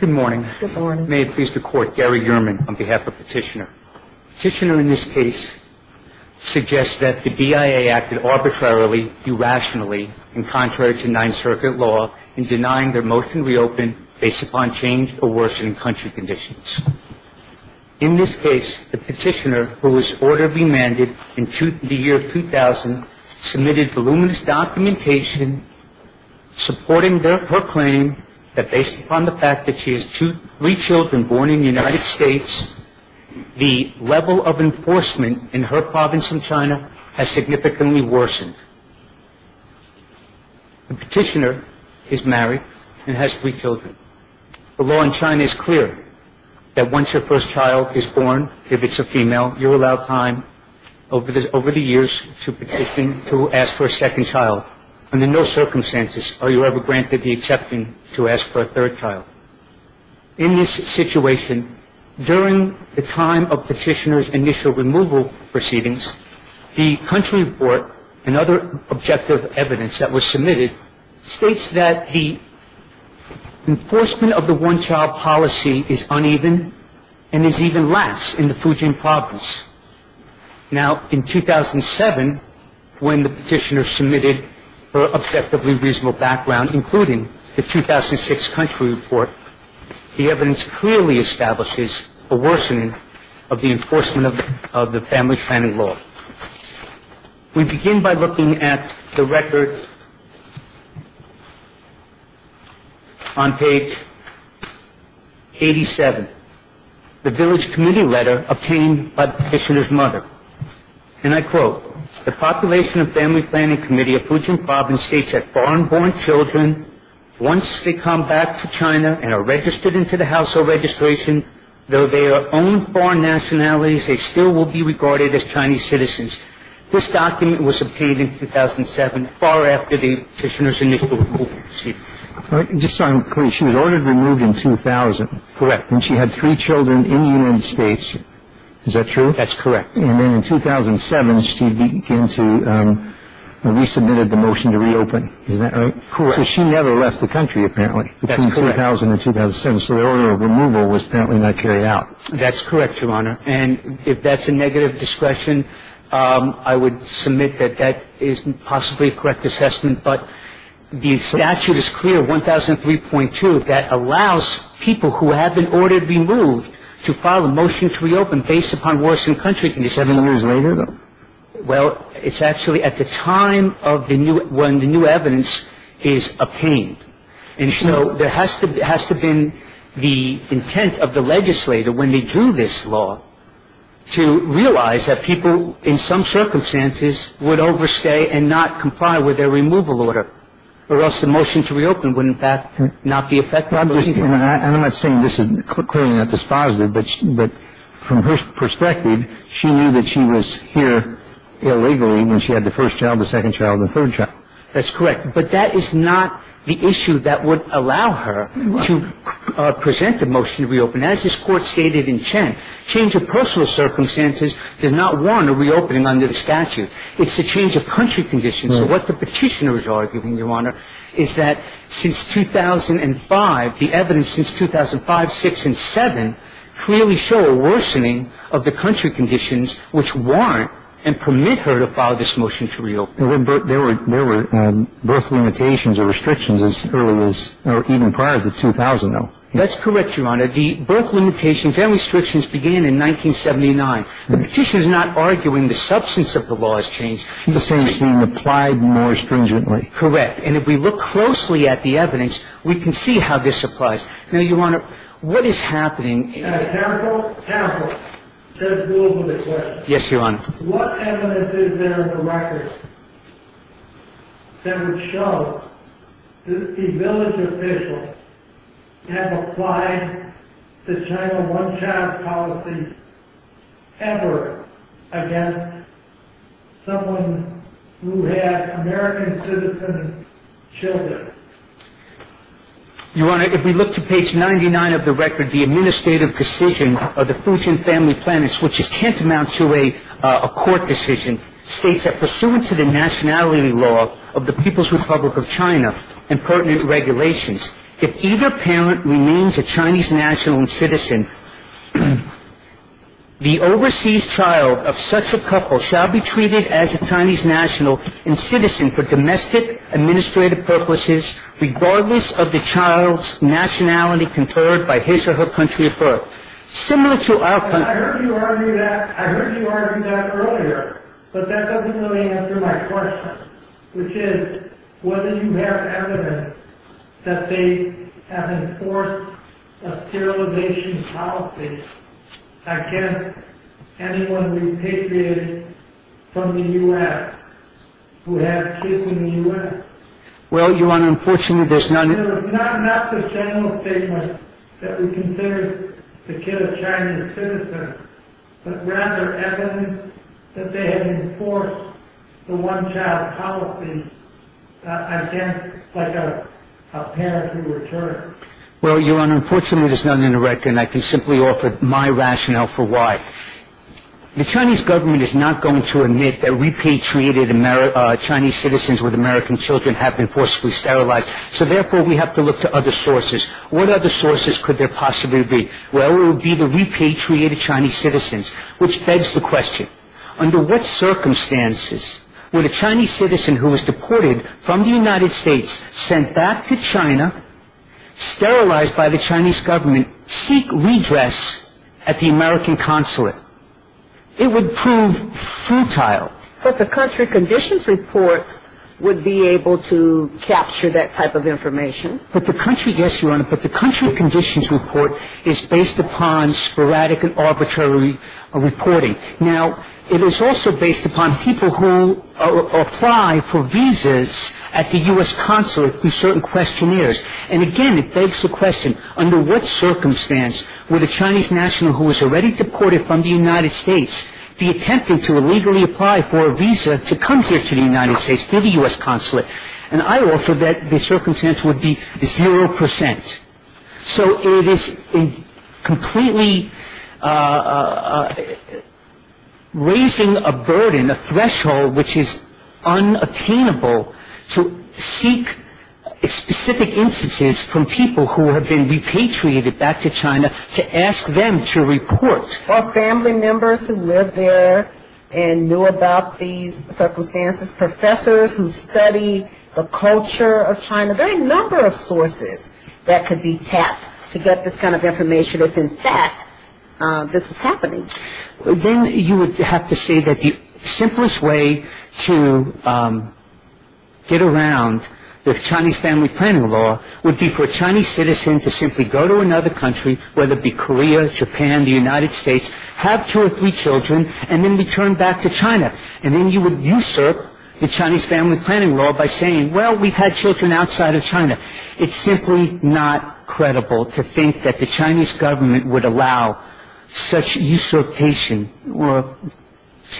Good morning. May it please the Court, Gary Yerman on behalf of Petitioner. Petitioner in this case suggests that the BIA acted arbitrarily, irrationally, in contrary to Ninth Circuit law in denying their motion to reopen based upon change or worsening country conditions. In this case, the Petitioner, who was orderly mandate in the year 2000, submitted voluminous documentation supporting her claim that based upon the fact that she has three children born in the United States, the level of enforcement in her province in China has significantly worsened. The Petitioner is married and has three children. The law in China is clear that once her first child is born, if it's a female, you're allowed time over the years to petition to ask for a second child. Under no circumstances are you ever granted the exception to ask for a third child. In this situation, during the time of Petitioner's initial removal proceedings, the country report and other objective evidence that was submitted states that the enforcement of the one-child policy is uneven and is even less in the Fujian province. Now, in 2007, when the Petitioner submitted her objectively reasonable background, including the 2006 country report, the evidence clearly establishes a worsening of the enforcement of the family planning law. We begin by looking at the record on page 87. The village committee letter obtained by the Petitioner's mother, and I quote, the population of family planning committee of Fujian province states that foreign-born children, once they come back to China and are registered into the household registration, though they are of their own foreign nationalities, they still will be regarded as Chinese citizens. This document was obtained in 2007, far after the Petitioner's initial removal proceedings. Just so I'm clear, she was ordered removed in 2000. Correct. And she had three children in the United States. Is that true? That's correct. And then in 2007, she resubmitted the motion to reopen. Is that right? Correct. So she never left the country, apparently, between 2000 and 2007. So the order of removal was apparently not carried out. That's correct, Your Honor. And if that's a negative discretion, I would submit that that is possibly a correct assessment. But the statute is clear, 1003.2, that allows people who have been ordered removed to file a motion to reopen based upon worsening country conditions. Seven years later, though? Well, it's actually at the time when the new evidence is obtained. And so there has to have been the intent of the legislator, when they drew this law, to realize that people in some circumstances would overstay and not comply with their removal order, or else the motion to reopen would, in fact, not be effective. I'm not saying this is clearly not dispositive, but from her perspective, she knew that she was here illegally when she had the first child, the second child, the third child. That's correct. But that is not the issue that would allow her to present the motion to reopen. As this Court stated in Chen, change of personal circumstances does not warrant a reopening under the statute. It's the change of country conditions. So what the petitioner is arguing, Your Honor, is that since 2005, the evidence since 2005, 2006, and 2007, clearly show a worsening of the country conditions which warrant and permit her to file this motion to reopen. But there were both limitations or restrictions as early as or even prior to 2000, though. That's correct, Your Honor. The both limitations and restrictions began in 1979. The petitioner is not arguing the substance of the law has changed. He's saying it's being applied more stringently. Correct. And if we look closely at the evidence, we can see how this applies. Now, Your Honor, what is happening in this case? Counsel, counsel. Judge Gould with a question. Yes, Your Honor. What evidence is there in the record that would show that a village official has applied the China one-child policy ever against someone who has American citizen children? Your Honor, if we look to page 99 of the record, the administrative decision of the Fujian Family Plan, which is tantamount to a court decision, states that pursuant to the nationality law of the People's Republic of China and pertinent regulations, if either parent remains a Chinese national and citizen, the overseas child of such a couple shall be treated as a Chinese national and citizen for domestic administrative purposes regardless of the child's nationality conferred by his or her country of birth. I heard you argue that earlier, but that doesn't really answer my question, which is whether you have evidence that they have enforced a sterilization policy against anyone repatriated from the U.S. who has kids in the U.S. Well, Your Honor, unfortunately, there's none. Not the general statement that we consider the kid a Chinese citizen, but rather evidence that they have enforced the one-child policy against a parent who returns. Well, Your Honor, unfortunately, there's none in the record, and I can simply offer my rationale for why. The Chinese government is not going to admit that repatriated Chinese citizens with American children have been forcibly sterilized, so therefore we have to look to other sources. What other sources could there possibly be? Well, it would be the repatriated Chinese citizens, which begs the question, under what circumstances would a Chinese citizen who was deported from the United States, sent back to China, sterilized by the Chinese government, seek redress at the American consulate? It would prove futile. But the country conditions report would be able to capture that type of information. Yes, Your Honor, but the country conditions report is based upon sporadic and arbitrary reporting. Now, it is also based upon people who apply for visas at the U.S. consulate through certain questionnaires. And again, it begs the question, under what circumstance would a Chinese national who was already deported from the United States be attempting to illegally apply for a visa to come here to the United States, to the U.S. consulate? And I offer that the circumstance would be zero percent. So it is completely raising a burden, a threshold, which is unattainable to seek specific instances from people who have been repatriated back to China to ask them to report. Or family members who live there and knew about these circumstances, professors who study the culture of China. There are a number of sources that could be tapped to get this kind of information if, in fact, this was happening. Then you would have to say that the simplest way to get around the Chinese family planning law would be for a Chinese citizen to simply go to another country, whether it be Korea, Japan, the United States, have two or three children, and then return back to China. And then you would usurp the Chinese family planning law by saying, well, we've had children outside of China. It's simply not credible to think that the Chinese government would allow such usurpation. Well,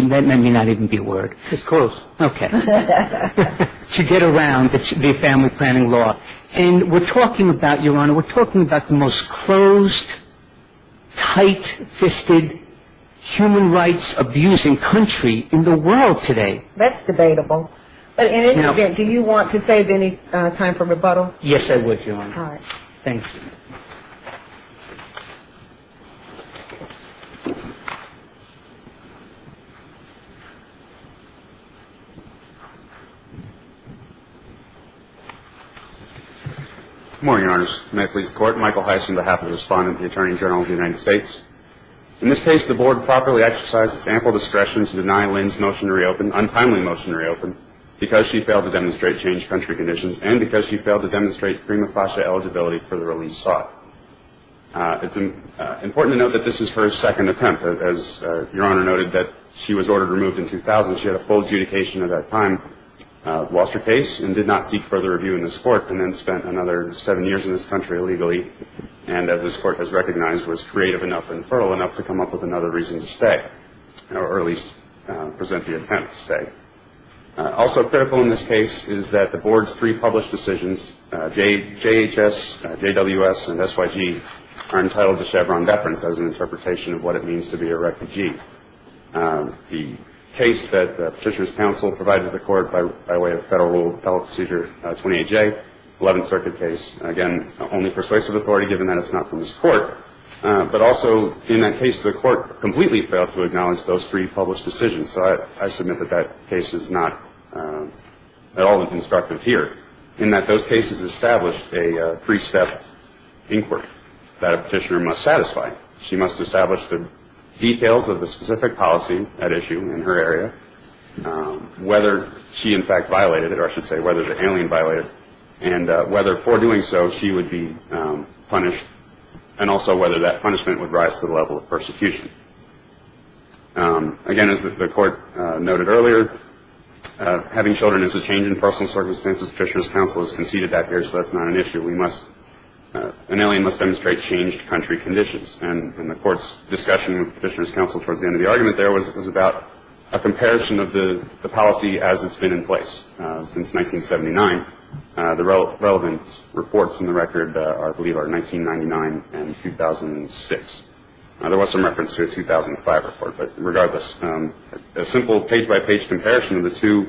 that may not even be a word. It's close. Okay. To get around the family planning law. And we're talking about, Your Honor, we're talking about the most closed, tight-fisted, human rights-abusing country in the world today. That's debatable. But in any event, do you want to save any time for rebuttal? Yes, I would, Your Honor. All right. Thank you. Good morning, Your Honors. May I please court? Michael Heiss on behalf of the respondent of the Attorney General of the United States. In this case, the board properly exercised its ample discretion to deny Lynn's motion to reopen, untimely motion to reopen, because she failed to demonstrate change country conditions and because she failed to demonstrate prima facie eligibility for the release sought. It's important to note that this is her second attempt. As Your Honor noted, she was ordered removed in 2000. She had a full adjudication at that time. Lost her case and did not seek further review in this court and then spent another seven years in this country illegally. And as this court has recognized, was creative enough and fertile enough to come up with another reason to stay, or at least present the intent to stay. Also critical in this case is that the board's three published decisions, JHS, JWS, and SYG, are entitled to Chevron deference as an interpretation of what it means to be a refugee. The case that Petitioner's counsel provided to the court by way of Federal Rule of Appellate Procedure 28J, 11th Circuit case, again, only persuasive authority given that it's not from this court. But also in that case, the court completely failed to acknowledge those three published decisions. So I submit that that case is not at all constructive here in that those cases established a three-step inquiry that a petitioner must satisfy. She must establish the details of the specific policy at issue in her area, whether she in fact violated it, or I should say whether the alien violated it, and whether for doing so she would be punished, and also whether that punishment would rise to the level of persecution. Again, as the court noted earlier, having children is a change in personal circumstances. Petitioner's counsel has conceded that here, so that's not an issue. An alien must demonstrate changed country conditions. And the court's discussion with Petitioner's counsel towards the end of the argument there was about a comparison of the policy as it's been in place since 1979. The relevant reports in the record, I believe, are 1999 and 2006. There was some reference to a 2005 report, but regardless, a simple page-by-page comparison of the two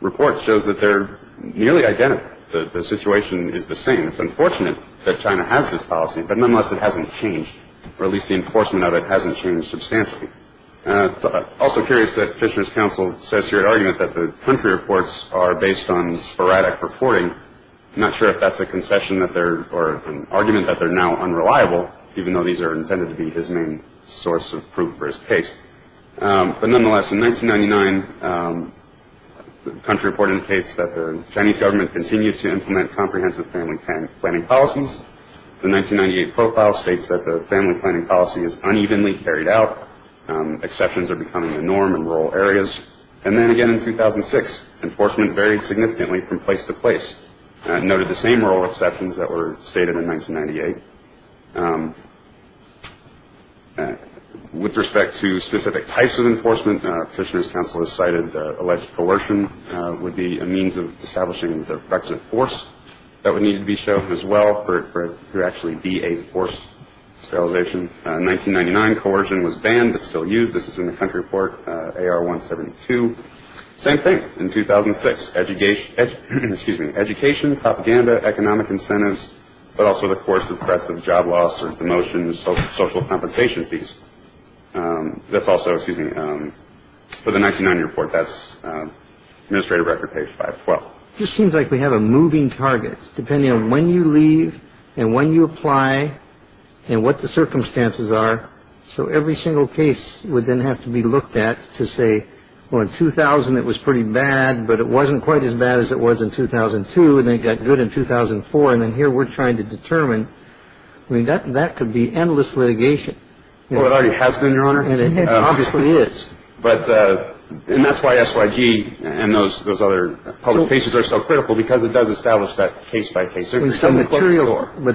reports shows that they're nearly identical. The situation is the same. It's unfortunate that China has this policy, but nonetheless it hasn't changed, or at least the enforcement of it hasn't changed substantially. I'm also curious that Petitioner's counsel says here at argument that the country reports are based on sporadic reporting. I'm not sure if that's a concession or an argument that they're now unreliable, even though these are intended to be his main source of proof for his case. But nonetheless, in 1999, the country reported a case that the Chinese government continues to implement comprehensive family planning policies. The 1998 profile states that the family planning policy is unevenly carried out. Exceptions are becoming the norm in rural areas. And then again in 2006, enforcement varied significantly from place to place. Noted the same rural exceptions that were stated in 1998. With respect to specific types of enforcement, Petitioner's counsel has cited alleged coercion would be a means of establishing the requisite force that would need to be shown as well for it to actually be a forced sterilization. In 1999, coercion was banned but still used. This is in the country report AR-172. Same thing in 2006. Education, excuse me, education, propaganda, economic incentives, but also the coercive threats of job loss or demotion, social compensation fees. That's also, excuse me, for the 1990 report, that's administrative record page 512. It just seems like we have a moving target. Depending on when you leave and when you apply and what the circumstances are, so every single case would then have to be looked at to say, well, in 2000, it was pretty bad, but it wasn't quite as bad as it was in 2002. And they got good in 2004. And then here we're trying to determine, I mean, that that could be endless litigation. Well, it already has been, Your Honor. And it obviously is. But that's why S.Y.G. and those those other cases are so critical because it does establish that case by case. But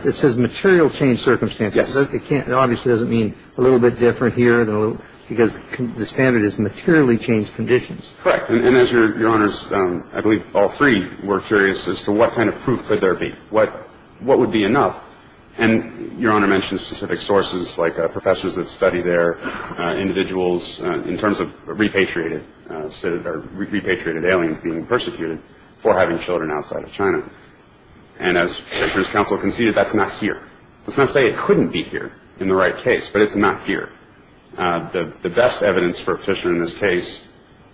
this is material change circumstances. It obviously doesn't mean a little bit different here because the standard is materially changed conditions. Correct. And as Your Honor's, I believe all three were curious as to what kind of proof could there be? What what would be enough? And Your Honor mentioned specific sources like professors that study their individuals in terms of repatriated, repatriated aliens being persecuted for having children outside of China. And as his counsel conceded, that's not here. Let's not say it couldn't be here in the right case, but it's not here. The best evidence for a petitioner in this case,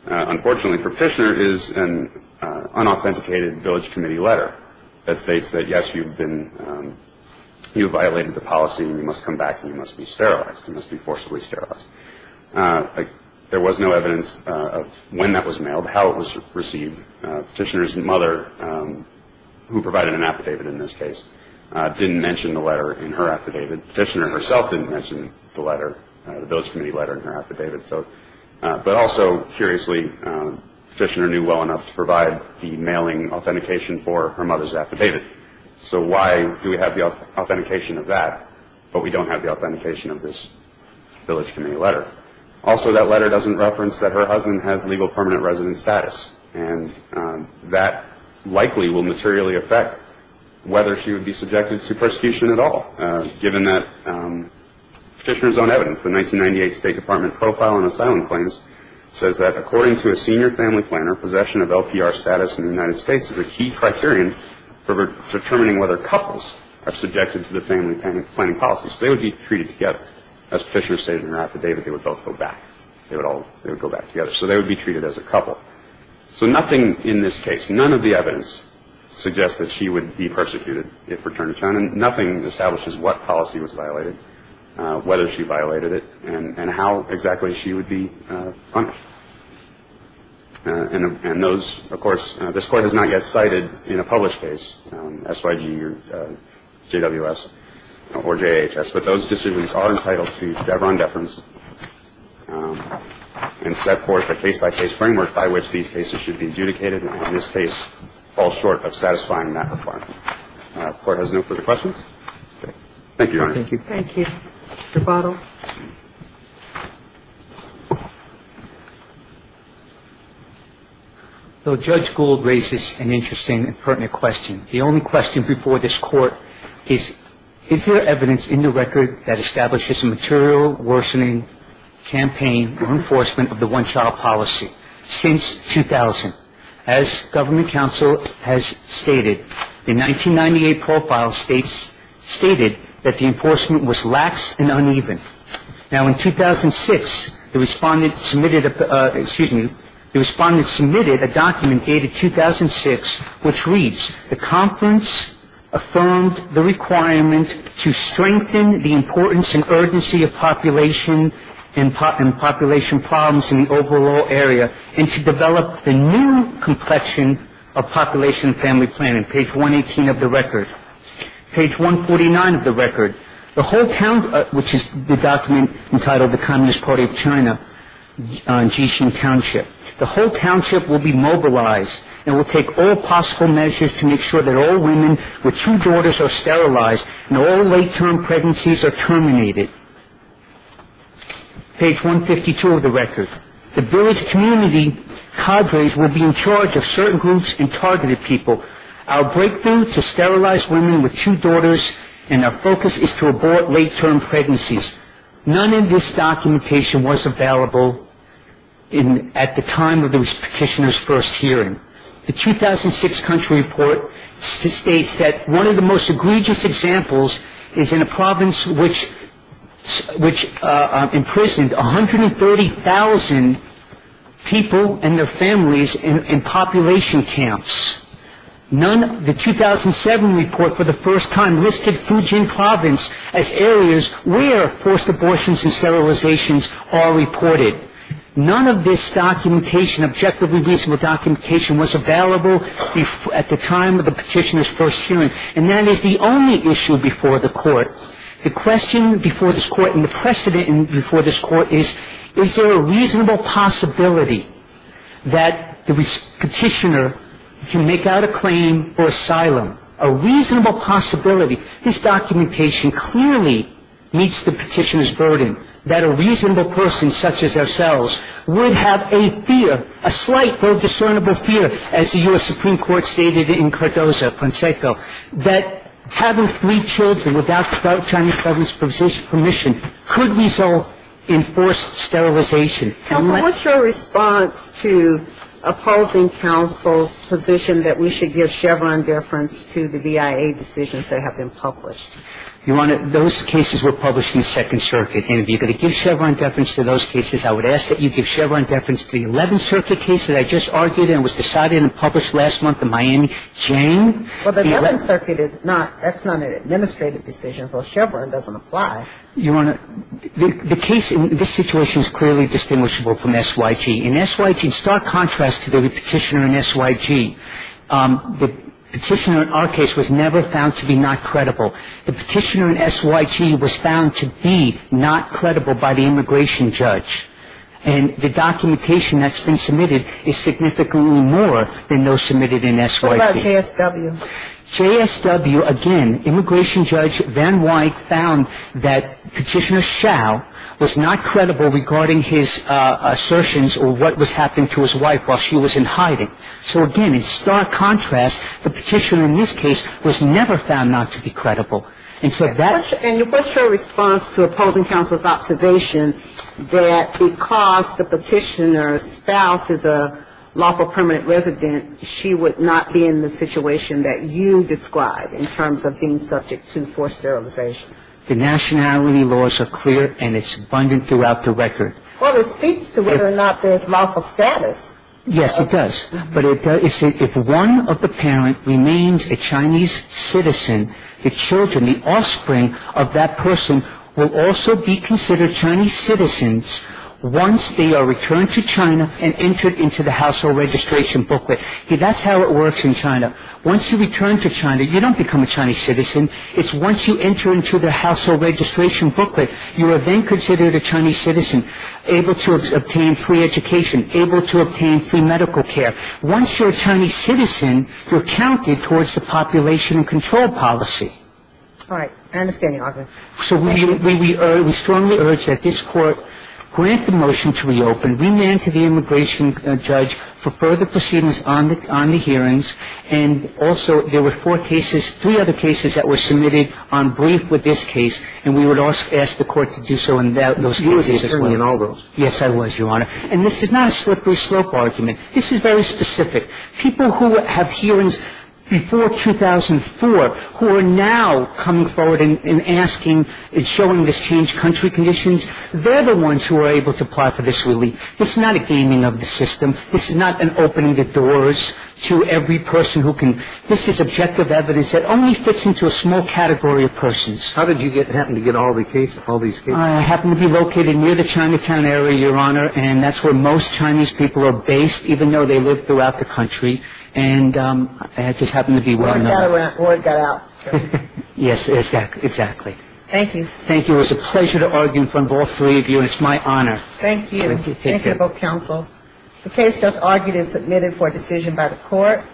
unfortunately, for Fishner is an unauthenticated village committee letter that states that, yes, you've been you violated the policy. You must come back. You must be sterilized. You must be forcibly sterilized. There was no evidence of when that was mailed, how it was received. Fishner's mother, who provided an affidavit in this case, didn't mention the letter in her affidavit. Fishner herself didn't mention the letter, the village committee letter in her affidavit. So but also curiously, Fishner knew well enough to provide the mailing authentication for her mother's affidavit. So why do we have the authentication of that? But we don't have the authentication of this village committee letter. Also, that letter doesn't reference that her husband has legal permanent resident status, and that likely will materially affect whether she would be subjected to persecution at all. Given that Fishner's own evidence, the 1998 State Department Profile on Asylum Claims, says that according to a senior family planner, possession of LPR status in the United States is a key criterion for determining whether couples are subjected to the family planning policy. So they would be treated together. As Fishner stated in her affidavit, they would both go back. They would all go back together. So they would be treated as a couple. So nothing in this case, none of the evidence suggests that she would be persecuted if returned to China. Nothing establishes what policy was violated, whether she violated it, and how exactly she would be punished. And those, of course, this Court has not yet cited in a published case, SYG or JWS or JHS, but those decisions are entitled to Chevron deference and set forth a case-by-case framework by which these cases should be adjudicated. And this case falls short of satisfying that requirement. The Court has no further questions. Thank you, Your Honor. Thank you. Thank you. Your bottle. Judge Gould raises an interesting and pertinent question. The only question before this Court is, is there evidence in the record that establishes a material worsening campaign or enforcement of the one-child policy since 2000? As Government Counsel has stated, the 1998 profile states, stated that the enforcement was lax and uneven. Now, in 2006, the Respondent submitted a, excuse me, the Respondent submitted a document dated 2006 which reads, the Conference affirmed the requirement to strengthen the importance and urgency of population and population problems in the overall area and to develop the new complexion of population and family planning. Page 118 of the record. Page 149 of the record. The whole town, which is the document entitled the Communist Party of China on Jishin Township. The whole township will be mobilized and will take all possible measures to make sure that all women with two daughters are sterilized and all late-term pregnancies are terminated. Page 152 of the record. The village community cadres will be in charge of certain groups and targeted people. Our breakthrough to sterilize women with two daughters and our focus is to abort late-term pregnancies. None of this documentation was available at the time of the Petitioner's first hearing. The 2006 country report states that one of the most egregious examples is in a province which imprisoned 130,000 people and their families in population camps. The 2007 report for the first time listed Fujian province as areas where forced abortions and sterilizations are reported. None of this documentation, objectively reasonable documentation, was available at the time of the Petitioner's first hearing. And that is the only issue before the court. The question before this court and the precedent before this court is, is there a reasonable possibility that the Petitioner can make out a claim for asylum? A reasonable possibility. His documentation clearly meets the Petitioner's burden, that a reasonable person such as ourselves would have a fear, a slight but discernible fear, as the U.S. Supreme Court stated in Cardozo-Fonseca, that having three children without Chinese government's permission could result in forced sterilization. The case that you have just argued, and this was decided and published last month in Miami, Jane, Well, the 11th Circuit is not, that's not an administrative decision, although Chevron doesn't apply. The case, this situation is clearly distinguished by the fact that the United States and the U.S. Supreme Court It's not an administrative decision, In S.Y.G., in stark contrast to the petitioner in S.Y.G., the petitioner in our case was never found to be not credible. The petitioner in S.Y.G. was found to be not credible by the immigration judge, and the documentation that's been submitted is significantly more than those submitted in S.Y.G. What about J.S.W.? J.S.W., again, immigration judge Van Wyk found that petitioner Schau was not credible regarding his assertions or what was happening to his wife while she was in hiding. So, again, in stark contrast, the petitioner in this case was never found not to be credible. And so that And what's your response to opposing counsel's observation that because the petitioner's spouse is a lawful permanent resident, she would not be in the situation that you describe in terms of being subject to forced sterilization? The nationality laws are clear, and it's abundant throughout the record. Well, it speaks to whether or not there's lawful status. Yes, it does. But if one of the parents remains a Chinese citizen, the children, the offspring of that person will also be considered Chinese citizens once they are returned to China and entered into the household registration booklet. That's how it works in China. Once you return to China, you don't become a Chinese citizen. It's once you enter into the household registration booklet, you are then considered a Chinese citizen, able to obtain free education, able to obtain free medical care. Once you're a Chinese citizen, you're counted towards the population and control policy. All right. I understand your argument. So we strongly urge that this Court grant the motion to reopen, remand to the immigration judge for further proceedings on the hearings. And also there were four cases, three other cases that were submitted on brief with this case, and we would ask the Court to do so in those cases as well. You were attorney in all those. Yes, I was, Your Honor. And this is not a slippery slope argument. This is very specific. People who have hearings before 2004 who are now coming forward and asking and showing this changed country conditions, they're the ones who are able to apply for this relief. This is not a gaming of the system. This is not an opening the doors to every person who can. This is objective evidence that only fits into a small category of persons. How did you happen to get all the cases, all these cases? I happen to be located near the Chinatown area, Your Honor, and that's where most Chinese people are based, even though they live throughout the country. And I just happen to be well known. Where it got out. Yes, exactly. Thank you. Thank you. It was a pleasure to argue in front of all three of you, and it's my honor. Thank you. Thank you. Thank you, both counsel. The case just argued and submitted for decision by the court.